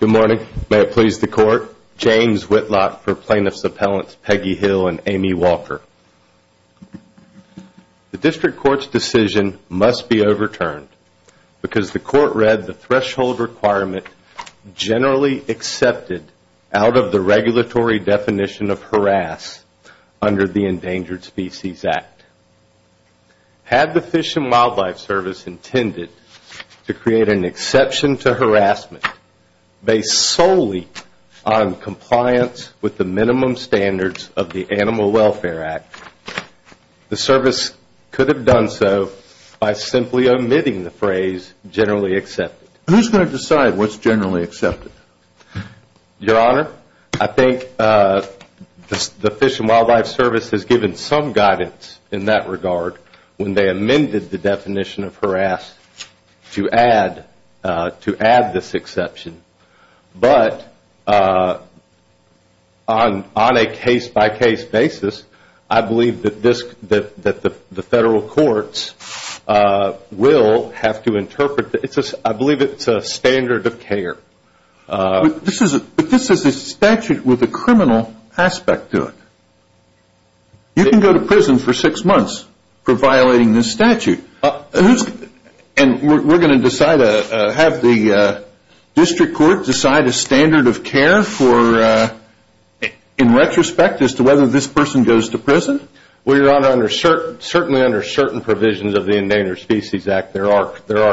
Good morning. May it please the Court. James Whitlock for Plaintiffs' Appellants Peggy Hill and Amy Walker. The District Court's decision must be overturned because the Court read the threshold requirement generally accepted out of the regulatory definition of harass under the Endangered Species Act. Had the Fish and Wildlife Service intended to create an exception to harassment based solely on compliance with the minimum standards of the Animal Welfare Act, the Service could have done so by simply omitting the phrase generally accepted. Who's going to decide what's generally accepted? Your Honor, I think the Fish and Wildlife Service has given some guidance in that regard when they amended the definition of harass to add this exception. But on a case-by-case basis, I believe that the Federal Courts will have to interpret this. I believe it's a standard of care. But this is a statute with a criminal aspect to it. You can go to prison for six months for violating this statute. And we're going to have the District Court decide a standard of care in retrospect as to whether this person goes to prison? Well, Your Honor, certainly under certain provisions of the Endangered Species Act, there are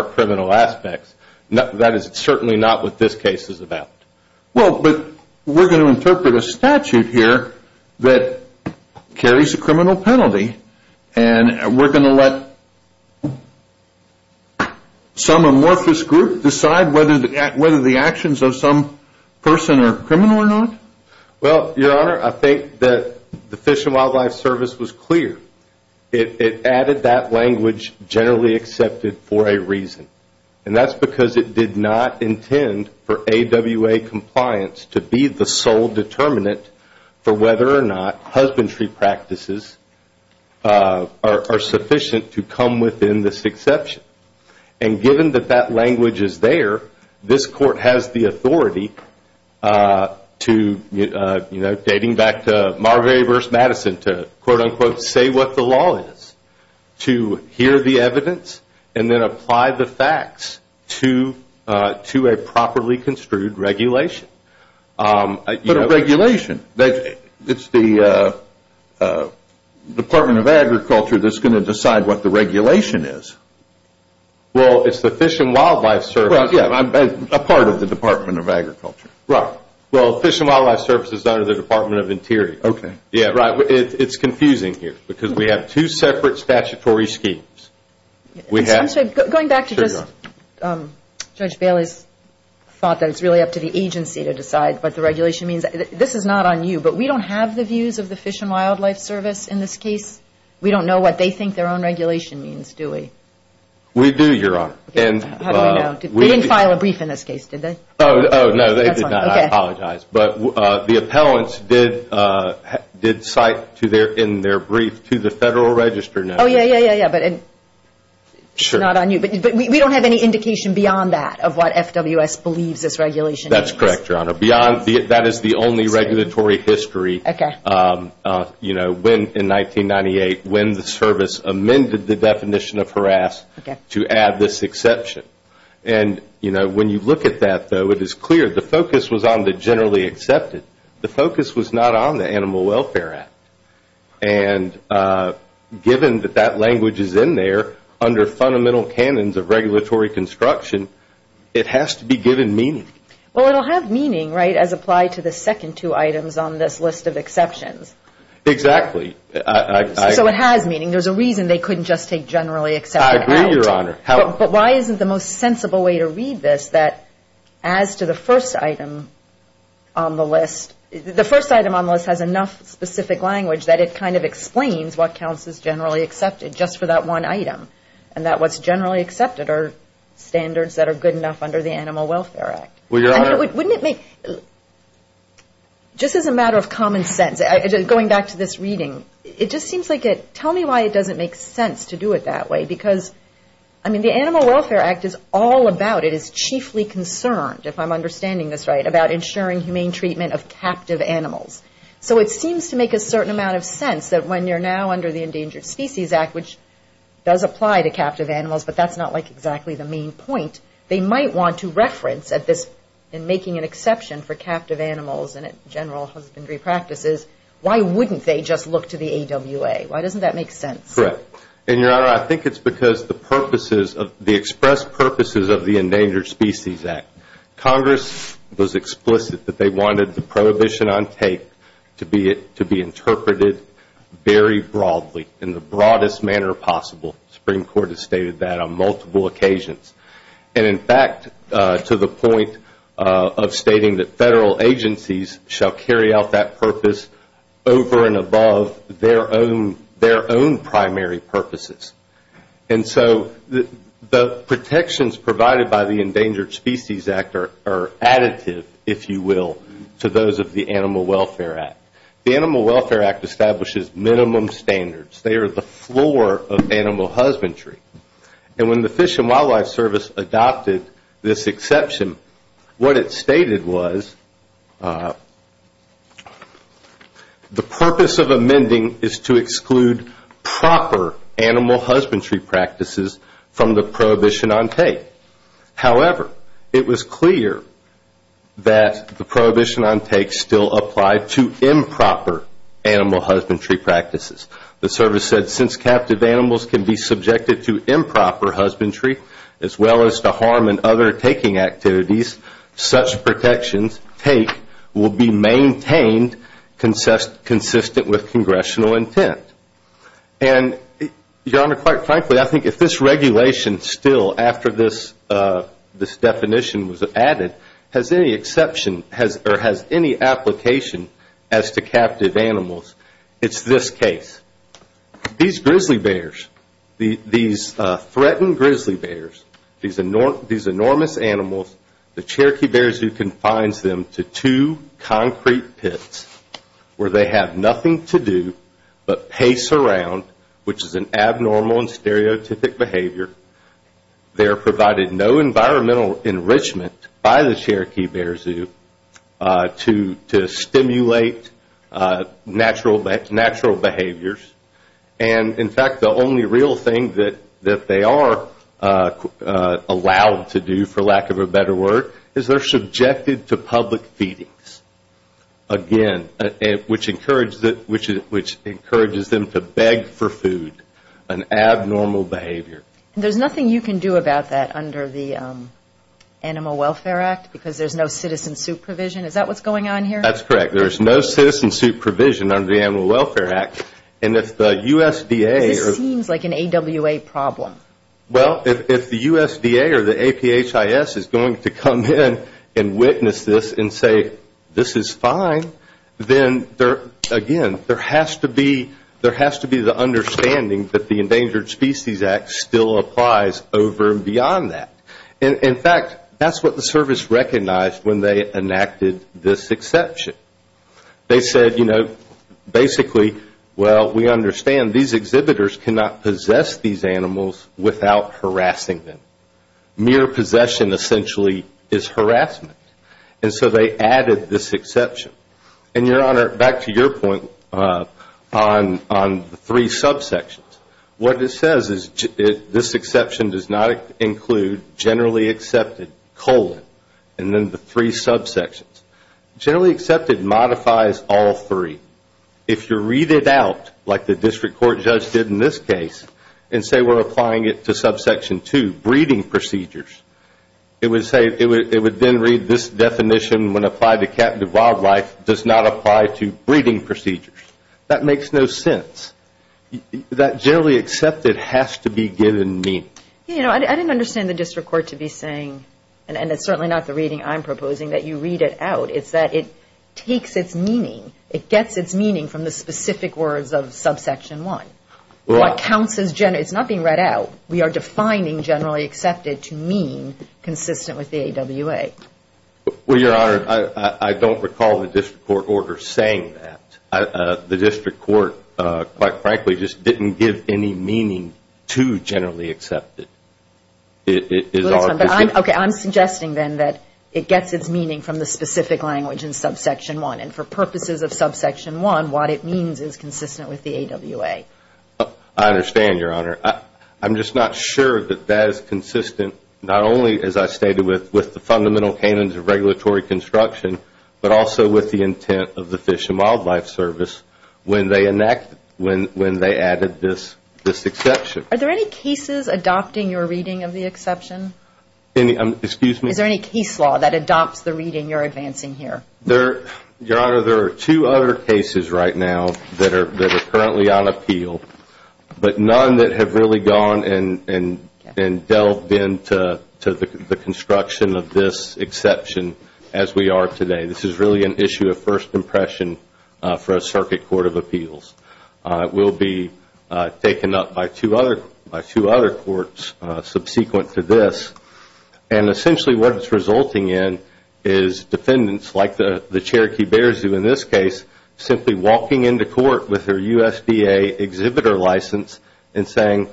criminal aspects. That is certainly not what this case is about. Well, but we're going to interpret a statute here that carries a criminal penalty. And we're going to let some amorphous group decide whether the actions of some person are criminal or not? Well, Your Honor, I think that the Fish and Wildlife Service was clear. It added that language generally accepted for a reason. And that's because it did not intend for AWA compliance to be the sole determinant for whether or not husbandry practices are sufficient to come within this exception. And given that that language is there, this Court has the authority to, dating back to Marbury v. Madison, to quote-unquote say what the law is, to hear the evidence, and then apply the facts to a properly construed regulation. But a regulation? It's the Department of Agriculture that's going to decide what the regulation is. Well, it's the Fish and Wildlife Service. Well, yeah, a part of the Department of Agriculture. Right. Well, the Fish and Wildlife Service is under the Department of Interior. Okay. Yeah, right. It's confusing here because we have two separate statutory schemes. I'm sorry. Going back to just Judge Bailey's thought that it's really up to the agency to decide what the regulation means, this is not on you, but we don't have the views of the Fish and Wildlife Service in this case. We don't know what they think their own regulation means, do we? We do, Your Honor. How do we know? They didn't file a brief in this case, did they? Oh, no, they did not. I apologize. But the appellants did cite in their brief to the Federal Register notice. Oh, yeah, yeah, yeah, yeah, but it's not on you. But we don't have any indication beyond that of what FWS believes this regulation means. That's correct, Your Honor. That is the only regulatory history, you know, in 1998, when the service amended the definition of harass to add this exception. And, you know, when you look at that, though, it is clear the focus was on the generally accepted. The focus was not on the Animal Welfare Act. And given that that language is in there under fundamental canons of regulatory construction, it has to be given meaning. Well, it will have meaning, right, as applied to the second two items on this list of exceptions. Exactly. So it has meaning. There's a reason they couldn't just take generally accepted out. I agree, Your Honor. But why isn't the most sensible way to read this that as to the first item on the list, the first item on the list has enough specific language that it kind of explains what counts as generally accepted, just for that one item, and that what's generally accepted are standards that are good enough under the Animal Welfare Act? Well, Your Honor. I mean, wouldn't it make, just as a matter of common sense, going back to this reading, it just seems like it, tell me why it doesn't make sense to do it that way. Because, I mean, the Animal Welfare Act is all about, it is chiefly concerned, if I'm understanding this right, about ensuring humane treatment of captive animals. So it seems to make a certain amount of sense that when you're now under the Endangered Species Act, which does apply to captive animals, but that's not like exactly the main point, they might want to reference at this, in making an exception for captive animals and at general husbandry practices, why wouldn't they just look to the AWA? Why doesn't that make sense? Correct. And, Your Honor, I think it's because the purposes, the expressed purposes of the Endangered Species Act. Congress was explicit that they wanted the prohibition on tape to be interpreted very broadly, in the broadest manner possible. The Supreme Court has stated that on multiple occasions. And, in fact, to the point of stating that federal agencies shall carry out that purpose over and above their own primary purposes. And so the protections provided by the Endangered Species Act are additive, if you will, to those of the Animal Welfare Act. The Animal Welfare Act establishes minimum standards. They are the floor of animal husbandry. And when the Fish and Wildlife Service adopted this exception, what it stated was, the purpose of amending is to exclude proper animal husbandry practices from the prohibition on tape. However, it was clear that the prohibition on tape still applied to improper animal husbandry practices. The service said, since captive animals can be subjected to improper husbandry, as well as to harm and other taking activities, such protections take will be maintained consistent with congressional intent. And, Your Honor, quite frankly, I think if this regulation still, after this definition was added, has any exception or has any application as to captive animals, it's this case. These grizzly bears, these threatened grizzly bears, these enormous animals, the Cherokee Bear Zoo confines them to two concrete pits where they have nothing to do but pace around, which is an abnormal and stereotypic behavior. They're provided no environmental enrichment by the Cherokee Bear Zoo to stimulate natural behaviors. And, in fact, the only real thing that they are allowed to do, for lack of a better word, is they're subjected to public feedings, again, which encourages them to beg for food, an abnormal behavior. And there's nothing you can do about that under the Animal Welfare Act because there's no citizen supervision? Is that what's going on here? That's correct. There's no citizen supervision under the Animal Welfare Act. And if the USDA or the APHIS is going to come in and witness this and say, this is fine, then, again, there has to be the understanding that the Endangered Species Act still applies over and beyond that. And, in fact, that's what the service recognized when they enacted this exception. They said, you know, basically, well, we understand these exhibitors cannot possess these animals without harassing them. Mere possession, essentially, is harassment. And so they added this exception. And, Your Honor, back to your point on the three subsections. What it says is this exception does not include generally accepted, colon, and then the three subsections. Generally accepted modifies all three. If you read it out, like the district court judge did in this case, and say we're applying it to subsection 2, breeding procedures, it would say, it would then read this definition when applied to captive wildlife does not apply to breeding procedures. That makes no sense. That generally accepted has to be given meaning. You know, I didn't understand the district court to be saying, and it's certainly not the reading I'm proposing, that you read it out. It's that it takes its meaning, it gets its meaning from the specific words of subsection 1. It's not being read out. We are defining generally accepted to mean consistent with the AWA. Well, Your Honor, I don't recall the district court order saying that. The district court, quite frankly, just didn't give any meaning to generally accepted. Okay, I'm suggesting then that it gets its meaning from the specific language in subsection 1. And for purposes of subsection 1, what it means is consistent with the AWA. I understand, Your Honor. I'm just not sure that that is consistent not only, as I stated, with the fundamental canons of regulatory construction, but also with the intent of the Fish and Wildlife Service when they added this exception. Are there any cases adopting your reading of the exception? Excuse me? Is there any case law that adopts the reading you're advancing here? Your Honor, there are two other cases right now that are currently on appeal, but none that have really gone and delved into the construction of this exception as we are today. This is really an issue of first impression for a circuit court of appeals. It will be taken up by two other courts subsequent to this. And essentially what it's resulting in is defendants, like the Cherokee Bear Zoo in this case, simply walking into court with their USDA exhibitor license and saying,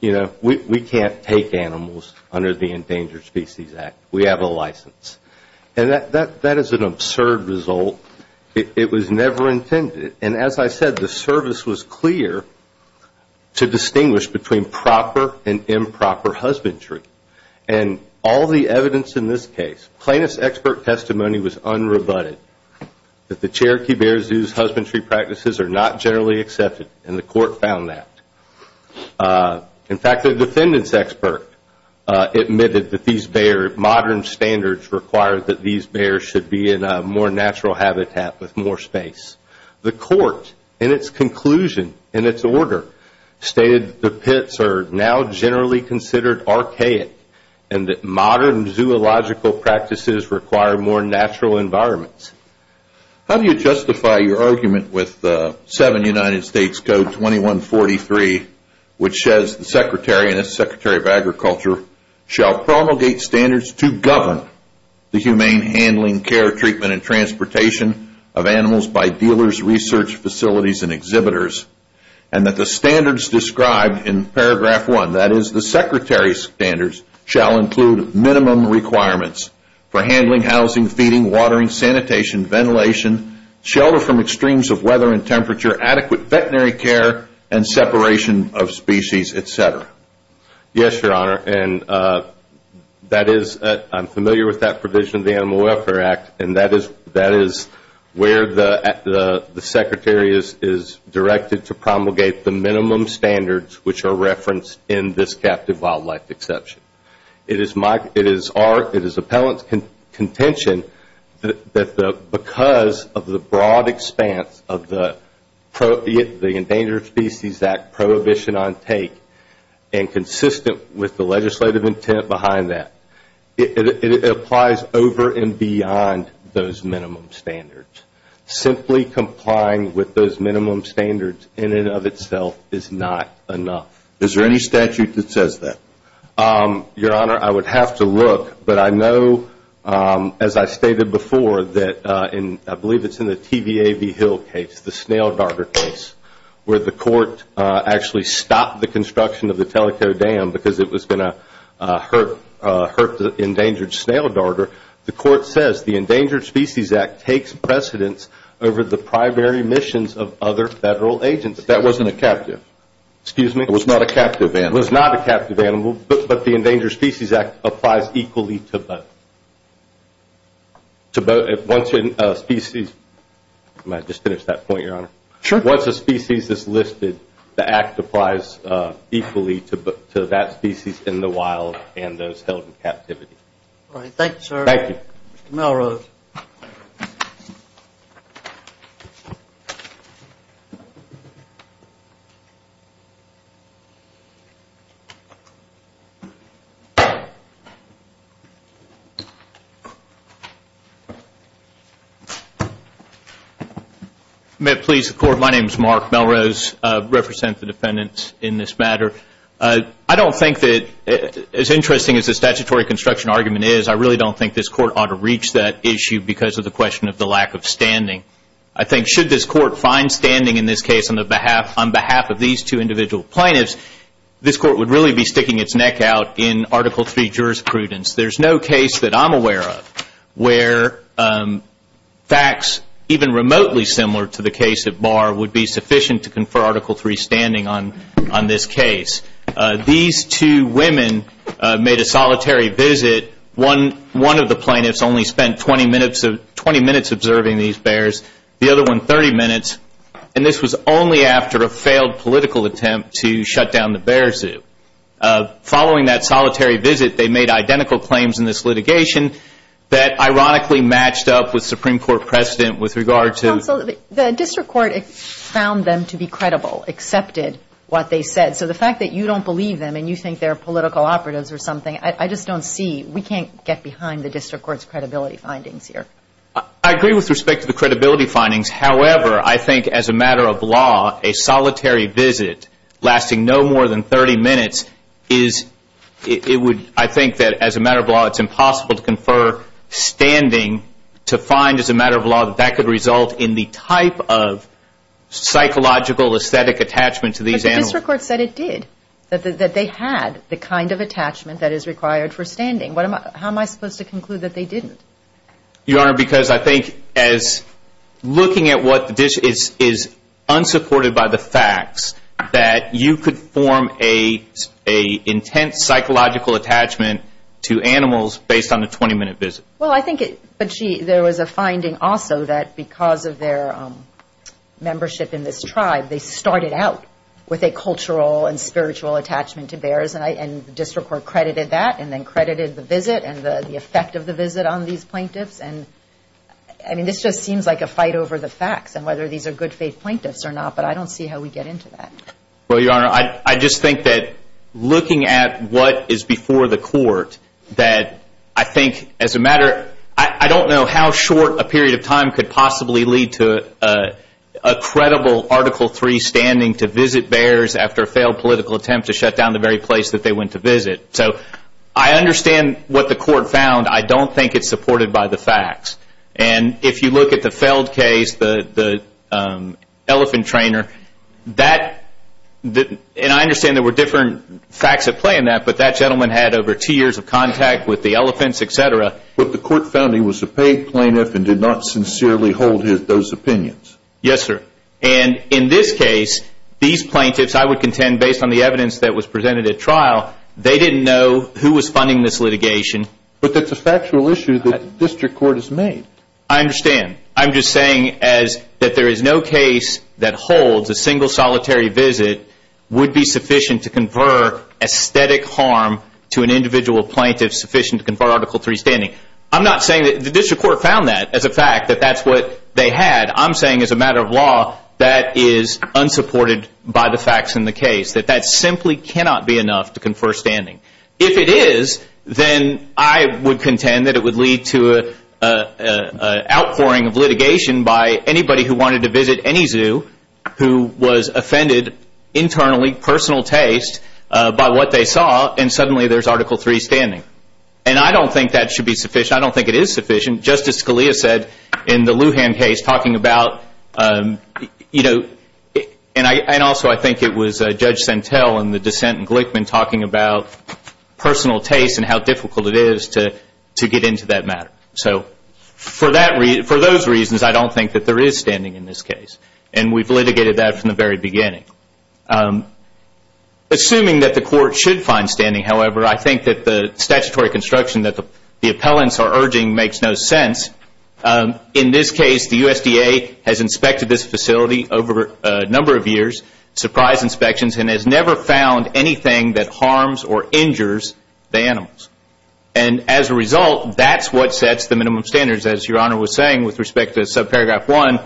you know, we can't take animals under the Endangered Species Act. We have a license. And that is an absurd result. It was never intended. And as I said, the service was clear to distinguish between proper and improper husbandry. And all the evidence in this case, plaintiff's expert testimony was unrebutted, that the Cherokee Bear Zoo's husbandry practices are not generally accepted. And the court found that. In fact, the defendant's expert admitted that these bear, modern standards require that these bears should be in a more natural habitat with more space. The court, in its conclusion, in its order, stated the pits are now generally considered archaic and that modern zoological practices require more natural environments. How do you justify your argument with 7 United States Code 2143, which says the secretary and its secretary of agriculture shall promulgate standards to govern the humane handling, care, treatment, and transportation of animals by dealers, research facilities, and exhibitors, and that the standards described in paragraph 1, that is, the secretary's standards, shall include minimum requirements for handling, housing, feeding, watering, sanitation, ventilation, shelter from extremes of weather and temperature, adequate veterinary care, and separation of species, et cetera? Yes, Your Honor, and that is, I'm familiar with that provision of the Animal Welfare Act, and that is where the secretary is directed to promulgate the minimum standards which are referenced in this captive wildlife exception. It is appellant's contention that because of the broad expanse of the Endangered Species Act prohibition on take and consistent with the legislative intent behind that, it applies over and beyond those minimum standards. Simply complying with those minimum standards in and of itself is not enough. Is there any statute that says that? Your Honor, I would have to look, but I know, as I stated before, that I believe it's in the TVAV Hill case, the snail darter case, where the court actually stopped the construction of the Teleco Dam because it was going to hurt the endangered snail darter. The court says the Endangered Species Act takes precedence over the primary missions of other federal agencies. That wasn't a captive. Excuse me? It was not a captive animal. It was not a captive animal, but the Endangered Species Act applies equally to both. Once a species is listed, the act applies equally to that species in the wild and those held in captivity. All right. Thank you, sir. Thank you. Mr. Melrose. May it please the Court? My name is Mark Melrose. I represent the defendants in this matter. I don't think that, as interesting as the statutory construction argument is, I really don't think this Court ought to reach that issue because of the question of the lack of standing. I think should this Court find standing in this case on behalf of these two individual plaintiffs, this Court would really be sticking its neck out in Article III jurisprudence. There's no case that I'm aware of where facts even remotely similar to the case at Barr would be sufficient to confer Article III standing on this case. These two women made a solitary visit. One of the plaintiffs only spent 20 minutes observing these bears. The other one, 30 minutes. And this was only after a failed political attempt to shut down the bear zoo. Following that solitary visit, they made identical claims in this litigation that, ironically, matched up with Supreme Court precedent with regard to- Counsel, the district court found them to be credible, accepted what they said. So the fact that you don't believe them and you think they're political operatives or something, I just don't see. We can't get behind the district court's credibility findings here. I agree with respect to the credibility findings. However, I think as a matter of law, a solitary visit lasting no more than 30 minutes is- I think that as a matter of law, it's impossible to confer standing to find, as a matter of law, that that could result in the type of psychological aesthetic attachment to these animals. But the district court said it did, that they had the kind of attachment that is required for standing. How am I supposed to conclude that they didn't? Your Honor, because I think as looking at what this is unsupported by the facts, that you could form an intense psychological attachment to animals based on a 20-minute visit. Well, I think it- But there was a finding also that because of their membership in this tribe, they started out with a cultural and spiritual attachment to bears. And the district court credited that and then credited the visit and the effect of the visit on these plaintiffs. And, I mean, this just seems like a fight over the facts and whether these are good faith plaintiffs or not. But I don't see how we get into that. Well, Your Honor, I just think that looking at what is before the court, that I think as a matter- I don't know how short a period of time could possibly lead to a credible Article III standing to visit bears after a failed political attempt to shut down the very place that they went to visit. So I understand what the court found. I don't think it's supported by the facts. And if you look at the Feld case, the elephant trainer, that- and I understand there were different facts at play in that, but that gentleman had over two years of contact with the elephants, et cetera. But the court found he was a paid plaintiff and did not sincerely hold those opinions. Yes, sir. And in this case, these plaintiffs, I would contend, based on the evidence that was presented at trial, they didn't know who was funding this litigation. But that's a factual issue that the district court has made. I understand. I'm just saying that there is no case that holds a single solitary visit would be sufficient to confer aesthetic harm to an individual plaintiff sufficient to confer Article III standing. I'm not saying that the district court found that as a fact, that that's what they had. I'm saying as a matter of law, that is unsupported by the facts in the case, that that simply cannot be enough to confer standing. If it is, then I would contend that it would lead to an outpouring of litigation by anybody who wanted to visit any zoo who was offended internally, personal taste, by what they saw, and suddenly there's Article III standing. And I don't think that should be sufficient. I don't think it is sufficient. Justice Scalia said in the Lujan case, talking about, you know, and also I think it was Judge Sentell in the dissent in Glickman talking about personal taste and how difficult it is to get into that matter. So for those reasons, I don't think that there is standing in this case. And we've litigated that from the very beginning. Assuming that the court should find standing, however, I think that the statutory construction that the appellants are urging makes no sense. In this case, the USDA has inspected this facility over a number of years, surprised inspections, and has never found anything that harms or injures the animals. And as a result, that's what sets the minimum standards. As Your Honor was saying with respect to subparagraph one,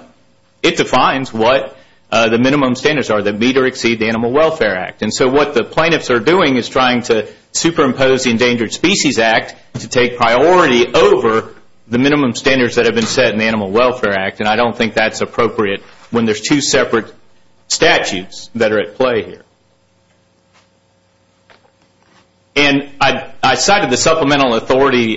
it defines what the minimum standards are that meet or exceed the Animal Welfare Act. And so what the plaintiffs are doing is trying to superimpose the Endangered Species Act to take priority over the minimum standards that have been set in the Animal Welfare Act. And I don't think that's appropriate when there's two separate statutes that are at play here. And I cited the supplemental authority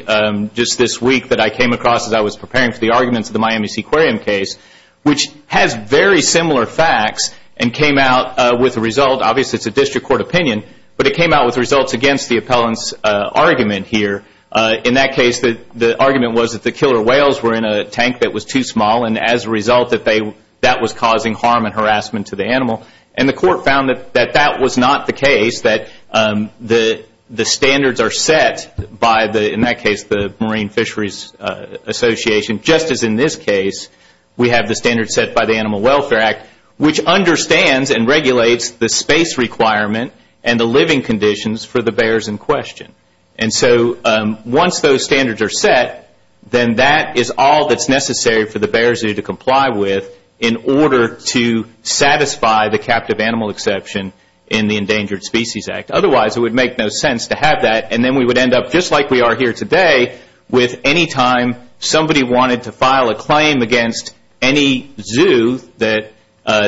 just this week that I came across as I was preparing for the arguments of the Miami Seaquarium case, which has very similar facts and came out with a result. Obviously, it's a district court opinion, but it came out with results against the appellant's argument here. In that case, the argument was that the killer whales were in a tank that was too small. And as a result, that was causing harm and harassment to the animal. And the court found that that was not the case, that the standards are set by, in that case, the Marine Fisheries Association, just as in this case we have the standards set by the Animal Welfare Act, which understands and regulates the space requirement and the living conditions for the bears in question. And so once those standards are set, then that is all that's necessary for the bear zoo to comply with in order to satisfy the captive animal exception in the Endangered Species Act. Otherwise, it would make no sense to have that, and then we would end up just like we are here today with any time somebody wanted to file a claim against any zoo that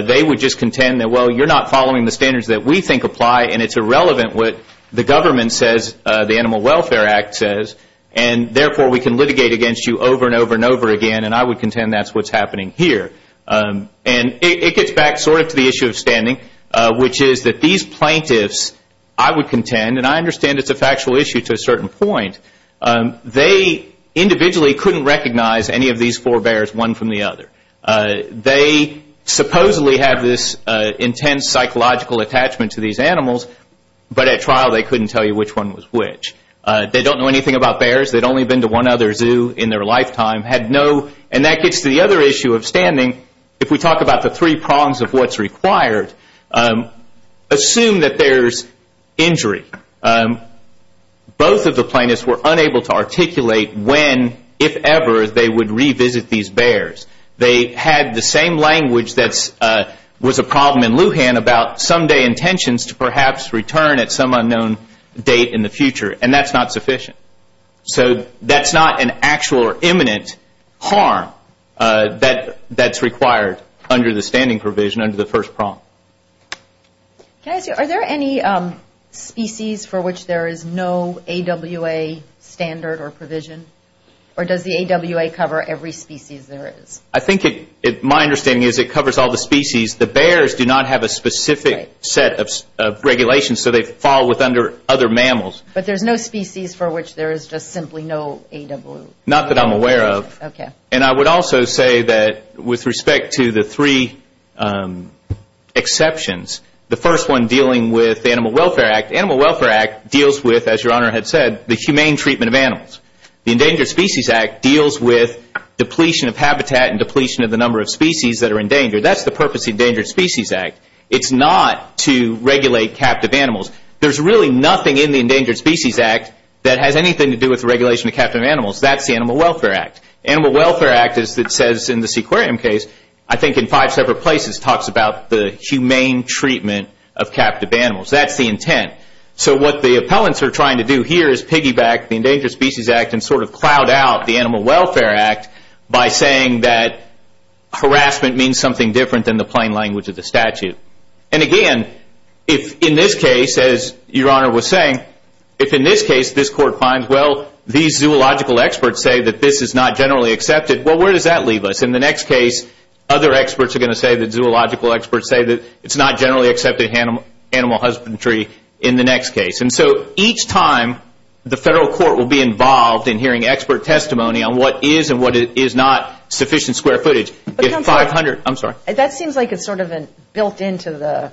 they would just contend that, well, you're not following the standards that we think apply, and it's irrelevant what the government says, the Animal Welfare Act says, and therefore we can litigate against you over and over and over again, and I would contend that's what's happening here. And it gets back sort of to the issue of standing, which is that these plaintiffs, I would contend, and I understand it's a factual issue to a certain point, they individually couldn't recognize any of these four bears one from the other. They supposedly have this intense psychological attachment to these animals, but at trial they couldn't tell you which one was which. They don't know anything about bears, they'd only been to one other zoo in their lifetime, and that gets to the other issue of standing. If we talk about the three prongs of what's required, assume that there's injury. Both of the plaintiffs were unable to articulate when, if ever, they would revisit these bears. They had the same language that was a problem in Lujan about someday intentions to perhaps return at some unknown date in the future, and that's not sufficient. So that's not an actual or imminent harm that's required under the standing provision, under the first prong. Can I ask you, are there any species for which there is no AWA standard or provision, or does the AWA cover every species there is? I think my understanding is it covers all the species. The bears do not have a specific set of regulations, so they fall under other mammals. But there's no species for which there is just simply no AWA? Not that I'm aware of. And I would also say that with respect to the three exceptions, the first one dealing with the Animal Welfare Act, the Animal Welfare Act deals with, as Your Honor had said, the humane treatment of animals. The Endangered Species Act deals with depletion of habitat and depletion of the number of species that are endangered. That's the purpose of the Endangered Species Act. It's not to regulate captive animals. There's really nothing in the Endangered Species Act that has anything to do with the regulation of captive animals. That's the Animal Welfare Act. The Animal Welfare Act, as it says in the Sequarium case, I think in five separate places, talks about the humane treatment of captive animals. That's the intent. So what the appellants are trying to do here is piggyback the Endangered Species Act and sort of cloud out the Animal Welfare Act by saying that harassment means something different than the plain language of the statute. And again, if in this case, as Your Honor was saying, if in this case this Court finds, well, these zoological experts say that this is not generally accepted, well, where does that leave us? In the next case, other experts are going to say that zoological experts say that it's not generally accepted animal husbandry in the next case. And so each time the Federal Court will be involved in hearing expert testimony on what is and what is not sufficient square footage. That seems like it's sort of built into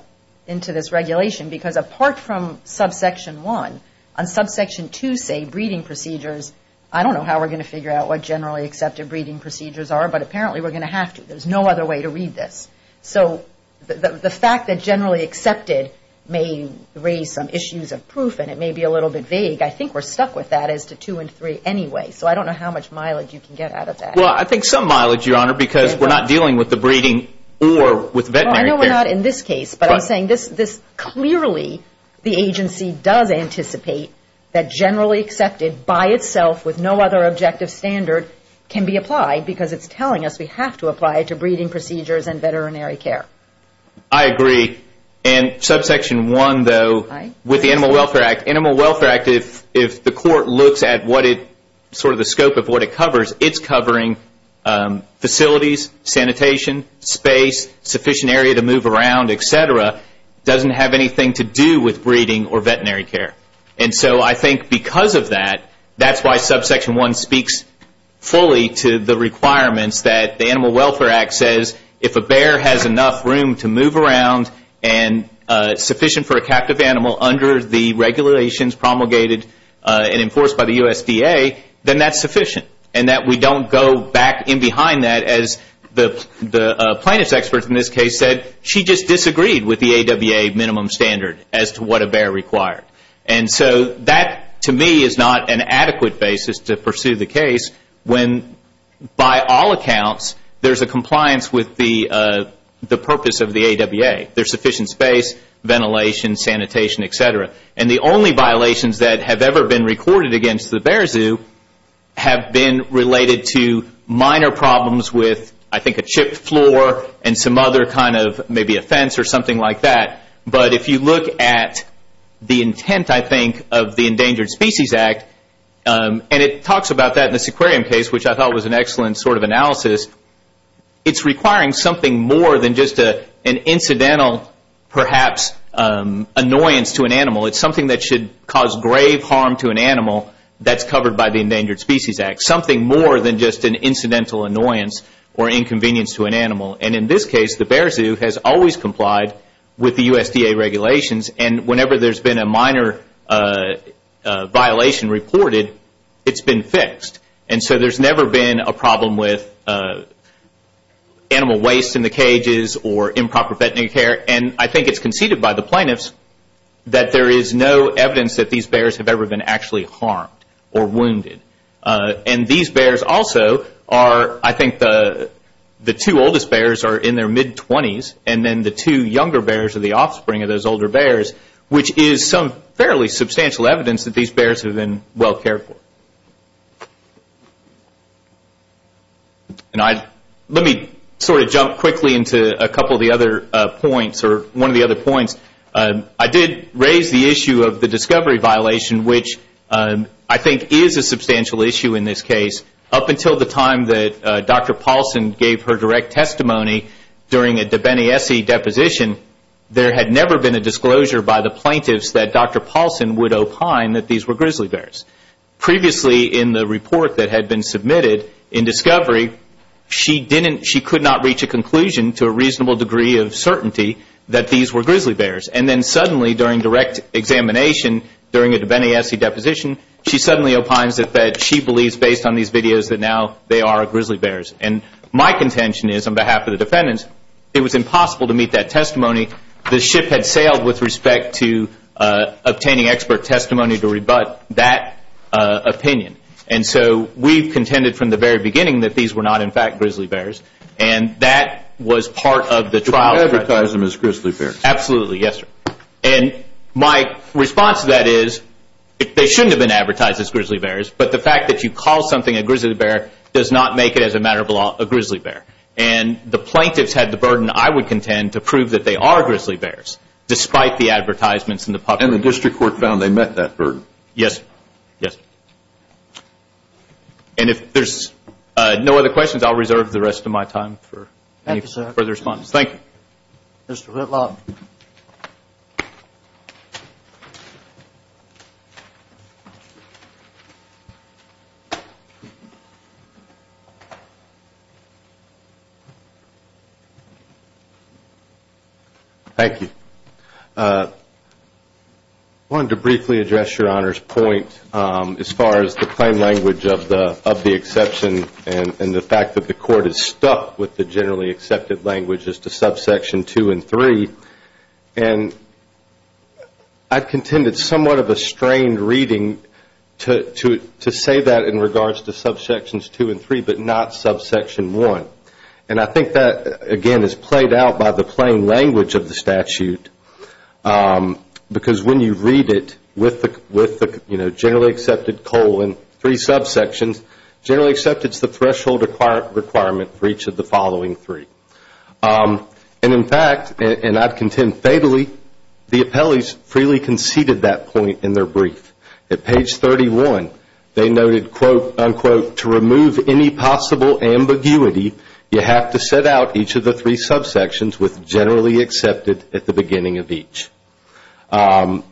this regulation because apart from subsection 1, on subsection 2, say, breeding procedures, I don't know how we're going to figure out what generally accepted breeding procedures are, but apparently we're going to have to. There's no other way to read this. So the fact that generally accepted may raise some issues of proof and it may be a little bit vague, I think we're stuck with that as to 2 and 3 anyway. So I don't know how much mileage you can get out of that. Well, I think some mileage, Your Honor, because we're not dealing with the breeding or with veterinary care. Well, I know we're not in this case, but I'm saying this clearly the agency does anticipate that generally accepted by itself with no other objective standard can be applied because it's telling us we have to apply it to breeding procedures and veterinary care. I agree. And subsection 1, though, with the Animal Welfare Act, Animal Welfare Act, if the Court looks at sort of the scope of what it covers, it's covering facilities, sanitation, space, sufficient area to move around, etc., doesn't have anything to do with breeding or veterinary care. And so I think because of that, that's why subsection 1 speaks fully to the requirements that the Animal Welfare Act says if a bear has enough room to move around and sufficient for a captive animal under the regulations promulgated and enforced by the USDA, then that's sufficient. And that we don't go back in behind that as the plaintiff's expert in this case said, she just disagreed with the AWA minimum standard as to what a bear required. And so that to me is not an adequate basis to pursue the case when by all accounts, there's a compliance with the purpose of the AWA. There's sufficient space, ventilation, sanitation, etc. And the only violations that have ever been recorded against the bear zoo have been related to minor problems with, I think, a chipped floor and some other kind of maybe a fence or something like that. But if you look at the intent, I think, of the Endangered Species Act, and it talks about that in this aquarium case, which I thought was an excellent sort of analysis, it's requiring something more than just an incidental, perhaps, annoyance to an animal. It's something that should cause grave harm to an animal that's covered by the Endangered Species Act. Something more than just an incidental annoyance or inconvenience to an animal. And in this case, the bear zoo has always complied with the USDA regulations and whenever there's been a minor violation reported, it's been fixed. And so there's never been a problem with animal waste in the cages or improper veterinary care. And I think it's conceded by the plaintiffs that there is no evidence that these bears have ever been actually harmed or wounded. And these bears also are, I think, the two oldest bears are in their mid-20s and then the two younger bears are the offspring of those older bears, which is some fairly substantial evidence that these bears have been well cared for. Let me sort of jump quickly into a couple of the other points, or one of the other points. I did raise the issue of the discovery violation, which I think is a substantial issue in this case. Up until the time that Dr. Paulson gave her direct testimony during a Debenese deposition, there had never been a disclosure by the plaintiffs that Dr. Paulson would opine that these were grizzly bears. Previously in the report that had been submitted in discovery, she could not reach a conclusion to a reasonable degree of certainty that these were grizzly bears. And then suddenly during direct examination during a Debenese deposition, she suddenly opines that she believes based on these videos that now they are grizzly bears. And my contention is, on behalf of the defendants, it was impossible to meet that testimony. The ship had sailed with respect to obtaining expert testimony to rebut that opinion. And so we've contended from the very beginning that these were not, in fact, grizzly bears. And that was part of the trial. You advertised them as grizzly bears. Absolutely, yes, sir. And my response to that is they shouldn't have been advertised as grizzly bears, but the fact that you call something a grizzly bear does not make it, as a matter of law, a grizzly bear. And the plaintiffs had the burden, I would contend, to prove that they are grizzly bears, despite the advertisements in the public. And the district court found they met that burden. Yes, sir. Yes, sir. And if there's no other questions, I'll reserve the rest of my time for any further response. Thank you. Mr. Whitlock. Thank you. I wanted to briefly address Your Honor's point as far as the plain language of the exception and the fact that the court is stuck with the generally accepted language as to subsection 2 and 3. And I contended somewhat of a strained reading to say that in regards to subsections 2 and 3, but not subsection 1. And I think that, again, is played out by the plain language of the statute, because when you read it with the generally accepted colon, three subsections, generally accepted is the threshold requirement for each of the following three. And, in fact, and I contend fatally, the appellees freely conceded that point in their brief. At page 31, they noted, quote, unquote, to remove any possible ambiguity, you have to set out each of the three subsections with generally accepted at the beginning of each. And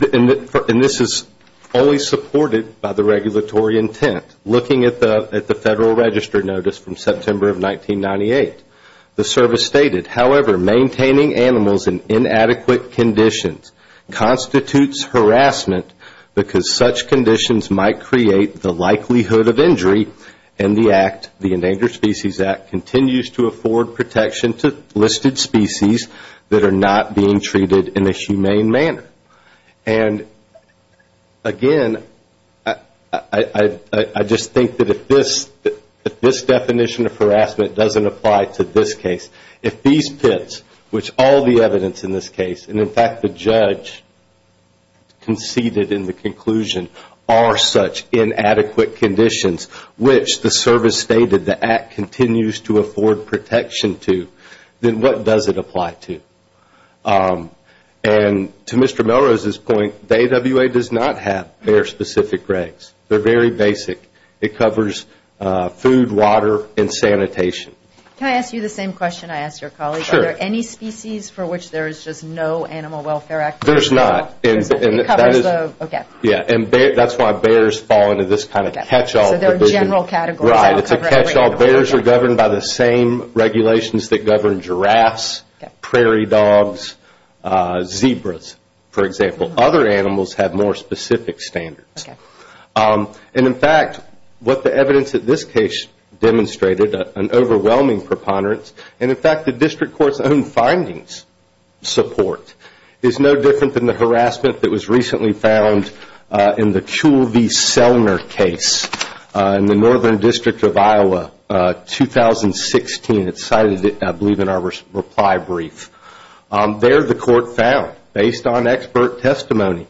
this is fully supported by the regulatory intent. Looking at the Federal Register Notice from September of 1998, the service stated, however, maintaining animals in inadequate conditions constitutes harassment, because such conditions might create the likelihood of injury, and the Act, the Endangered Species Act, continues to afford protection to listed species that are not being treated in a humane manner. And, again, I just think that if this definition of harassment doesn't apply to this case, if these pits, which all the evidence in this case, and, in fact, the judge conceded in the conclusion, are such inadequate conditions, which the service stated the Act continues to afford protection to, then what does it apply to? And to Mr. Melrose's point, the AWA does not have their specific regs. They're very basic. It covers food, water, and sanitation. Can I ask you the same question I asked your colleague? Sure. Are there any species for which there is just no Animal Welfare Act? There's not. It covers the, okay. Yeah, and that's why bears fall into this kind of catch-all. So there are general categories. Right. It's a catch-all. Bears are governed by the same regulations that govern giraffes, prairie dogs, zebras, for example. Other animals have more specific standards. Okay. And, in fact, what the evidence in this case demonstrated, an overwhelming preponderance, and, in fact, the district court's own findings support, is no different than the harassment that was recently found in the Kewl V. Selner case in the Northern District of Iowa, 2016. It's cited, I believe, in our reply brief. There the court found, based on expert testimony,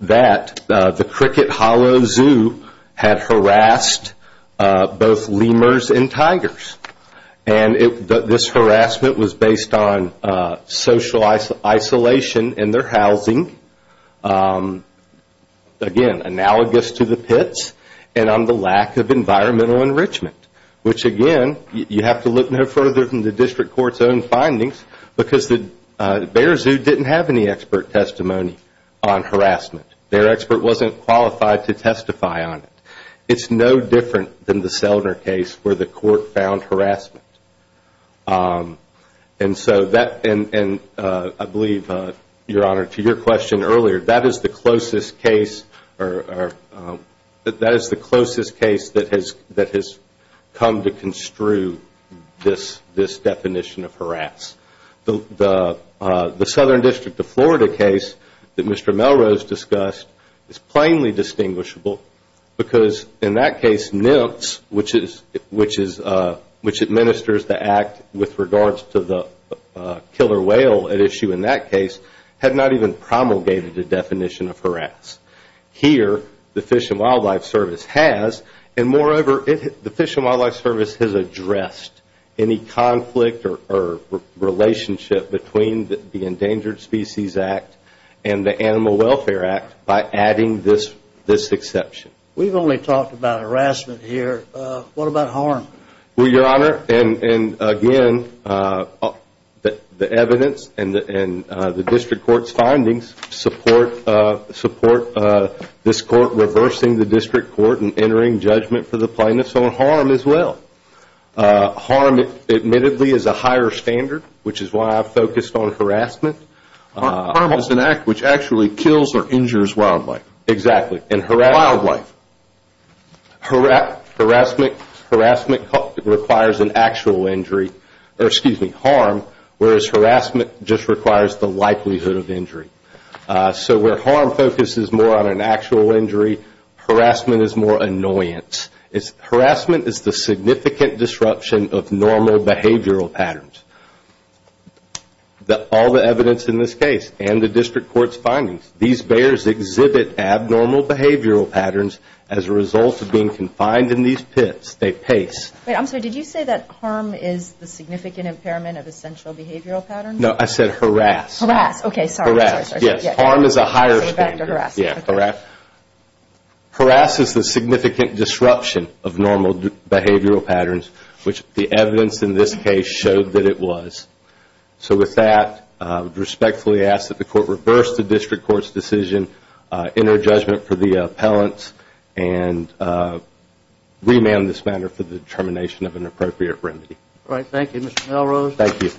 that the Cricket Hollow Zoo had harassed both lemurs and tigers. And this harassment was based on social isolation in their housing, again, analogous to the pits, and on the lack of environmental enrichment, which, again, you have to look no further than the district court's own findings because the bear zoo didn't have any expert testimony on harassment. Their expert wasn't qualified to testify on it. It's no different than the Selner case where the court found harassment. And so that, and I believe, Your Honor, to your question earlier, that is the closest case that has come to construe this definition of harass. The Southern District of Florida case that Mr. Melrose discussed is plainly distinguishable because, in that case, NIMPS, which administers the act with regards to the killer whale at issue in that case, had not even promulgated a definition of harass. Here, the Fish and Wildlife Service has, and moreover, the Fish and Wildlife Service has addressed any conflict or relationship between the Endangered Species Act and the Animal Welfare Act by adding this exception. We've only talked about harassment here. What about harm? Well, Your Honor, and again, the evidence and the district court's findings support this court reversing the district court and entering judgment for the plaintiffs on harm as well. Harm, admittedly, is a higher standard, which is why I focused on harassment. Harm is an act which actually kills or injures wildlife. Exactly. Wildlife. Harassment requires an actual injury, or excuse me, harm, whereas harassment just requires the likelihood of injury. So where harm focuses more on an actual injury, harassment is more annoyance. Harassment is the significant disruption of normal behavioral patterns. All the evidence in this case and the district court's findings, these bears exhibit abnormal behavioral patterns as a result of being confined in these pits. They pace. Wait, I'm sorry. Did you say that harm is the significant impairment of essential behavioral patterns? No, I said harass. Harass. Okay, sorry. Harass. Yes. Harm is a higher standard. Yeah, harass. Harass is the significant disruption of normal behavioral patterns, which the evidence in this case showed that it was. So with that, I respectfully ask that the court reverse the district court's decision, enter judgment for the appellants, and remand this matter for the determination of an appropriate remedy. All right. Thank you, Mr. Melrose. Thank you.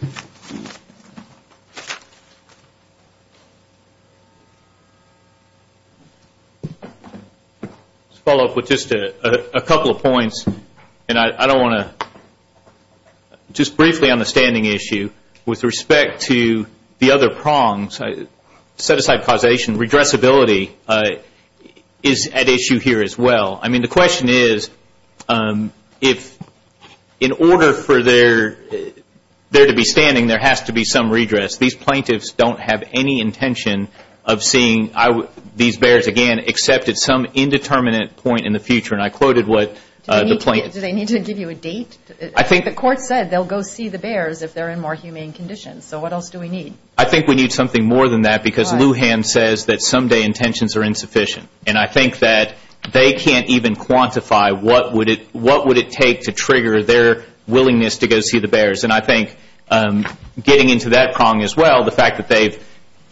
Let's follow up with just a couple of points, and I don't want to. Just briefly on the standing issue, with respect to the other prongs, set aside causation, redressability is at issue here as well. I mean, the question is, if in order for there to be standing, there has to be some redress. These plaintiffs don't have any intention of seeing these bears again, except at some indeterminate point in the future. And I quoted what the plaintiffs. Do they need to give you a date? I think the court said they'll go see the bears if they're in more humane conditions. So what else do we need? I think we need something more than that, because Lujan says that someday intentions are insufficient. And I think that they can't even quantify what would it take to trigger their willingness to go see the bears. And I think getting into that prong as well, the fact that they've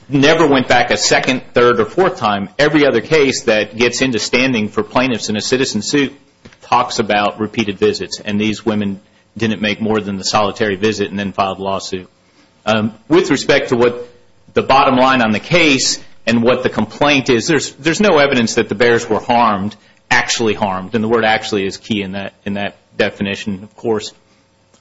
never went back a second, third, or fourth time. Every other case that gets into standing for plaintiffs in a citizen suit talks about repeated visits, and these women didn't make more than the solitary visit and then filed a lawsuit. With respect to what the bottom line on the case and what the complaint is, there's no evidence that the bears were harmed, actually harmed, and the word actually is key in that definition, of course.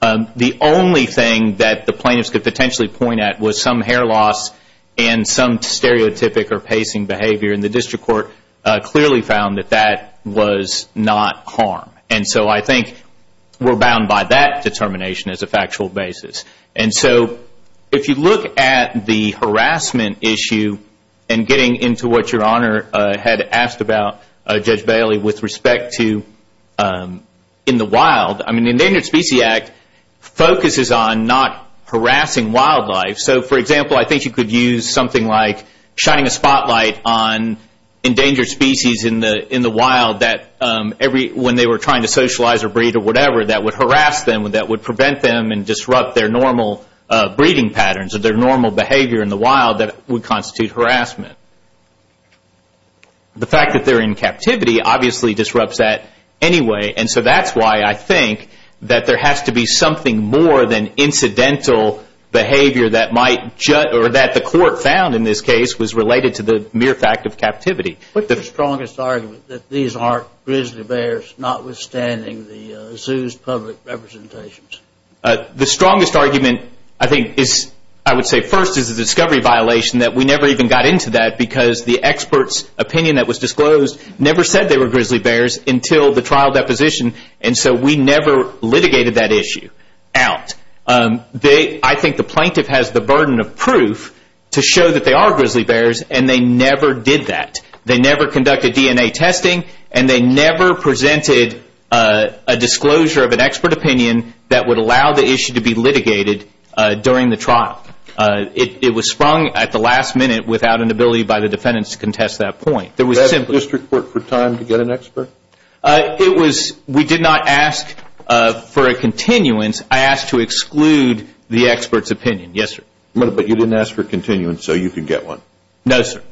The only thing that the plaintiffs could potentially point at was some hair loss and some stereotypic or pacing behavior, and the district court clearly found that that was not harm. And so I think we're bound by that determination as a factual basis. And so if you look at the harassment issue and getting into what Your Honor had asked about, Judge Bailey, with respect to in the wild, the Endangered Species Act focuses on not harassing wildlife. So, for example, I think you could use something like shining a spotlight on endangered species in the wild that when they were trying to socialize or breed or whatever, that would harass them, that would prevent them and disrupt their normal breeding patterns, or their normal behavior in the wild that would constitute harassment. The fact that they're in captivity obviously disrupts that anyway, and so that's why I think that there has to be something more than incidental behavior that the court found in this case was related to the mere fact of captivity. What's the strongest argument that these aren't grizzly bears, notwithstanding the zoo's public representations? The strongest argument, I think, I would say first is the discovery violation, that we never even got into that because the expert's opinion that was disclosed never said they were grizzly bears until the trial deposition, and so we never litigated that issue out. I think the plaintiff has the burden of proof to show that they are grizzly bears, and they never did that. They never conducted DNA testing, and they never presented a disclosure of an expert opinion that would allow the issue to be litigated during the trial. It was sprung at the last minute without an ability by the defendants to contest that point. Did the district court have time to get an expert? We did not ask for a continuance. I asked to exclude the expert's opinion, yes, sir. But you didn't ask for a continuance so you could get one? No, sir.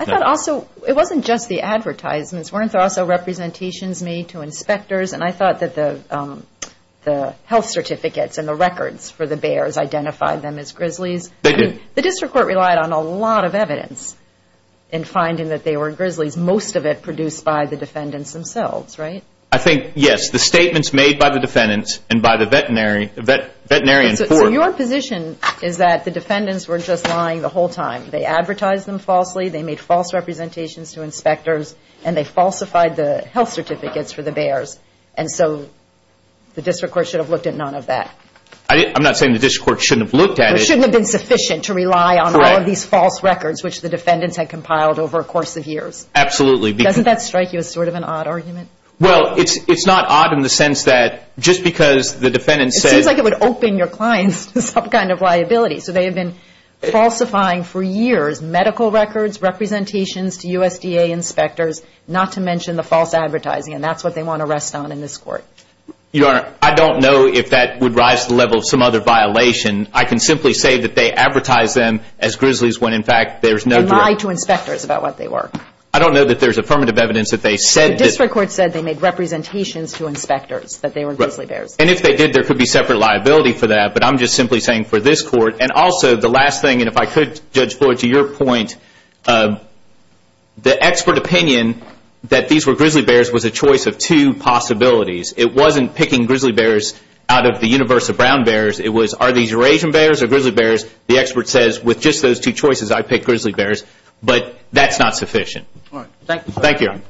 I thought also it wasn't just the advertisements. Weren't there also representations made to inspectors? And I thought that the health certificates and the records for the bears identified them as grizzlies. They did. The district court relied on a lot of evidence in finding that they were grizzlies, most of it produced by the defendants themselves, right? I think, yes, the statements made by the defendants and by the veterinarian court. So your position is that the defendants were just lying the whole time. They advertised them falsely, they made false representations to inspectors, and they falsified the health certificates for the bears. And so the district court should have looked at none of that. I'm not saying the district court shouldn't have looked at it. It shouldn't have been sufficient to rely on all of these false records, which the defendants had compiled over a course of years. Absolutely. Doesn't that strike you as sort of an odd argument? Well, it's not odd in the sense that just because the defendants said – It seems like it would open your clients to some kind of liability. So they have been falsifying for years medical records, representations to USDA inspectors, not to mention the false advertising, and that's what they want to rest on in this court. Your Honor, I don't know if that would rise to the level of some other violation. I can simply say that they advertised them as grizzlies when, in fact, there's no direct – They lied to inspectors about what they were. I don't know that there's affirmative evidence that they said – The district court said they made representations to inspectors that they were grizzly bears. And if they did, there could be separate liability for that. But I'm just simply saying for this court – And also, the last thing, and if I could, Judge Floyd, to your point, the expert opinion that these were grizzly bears was a choice of two possibilities. It wasn't picking grizzly bears out of the universe of brown bears. It was, are these Eurasian bears or grizzly bears? The expert says, with just those two choices, I pick grizzly bears. But that's not sufficient. All right. Thank you, sir. Thank you, Your Honor.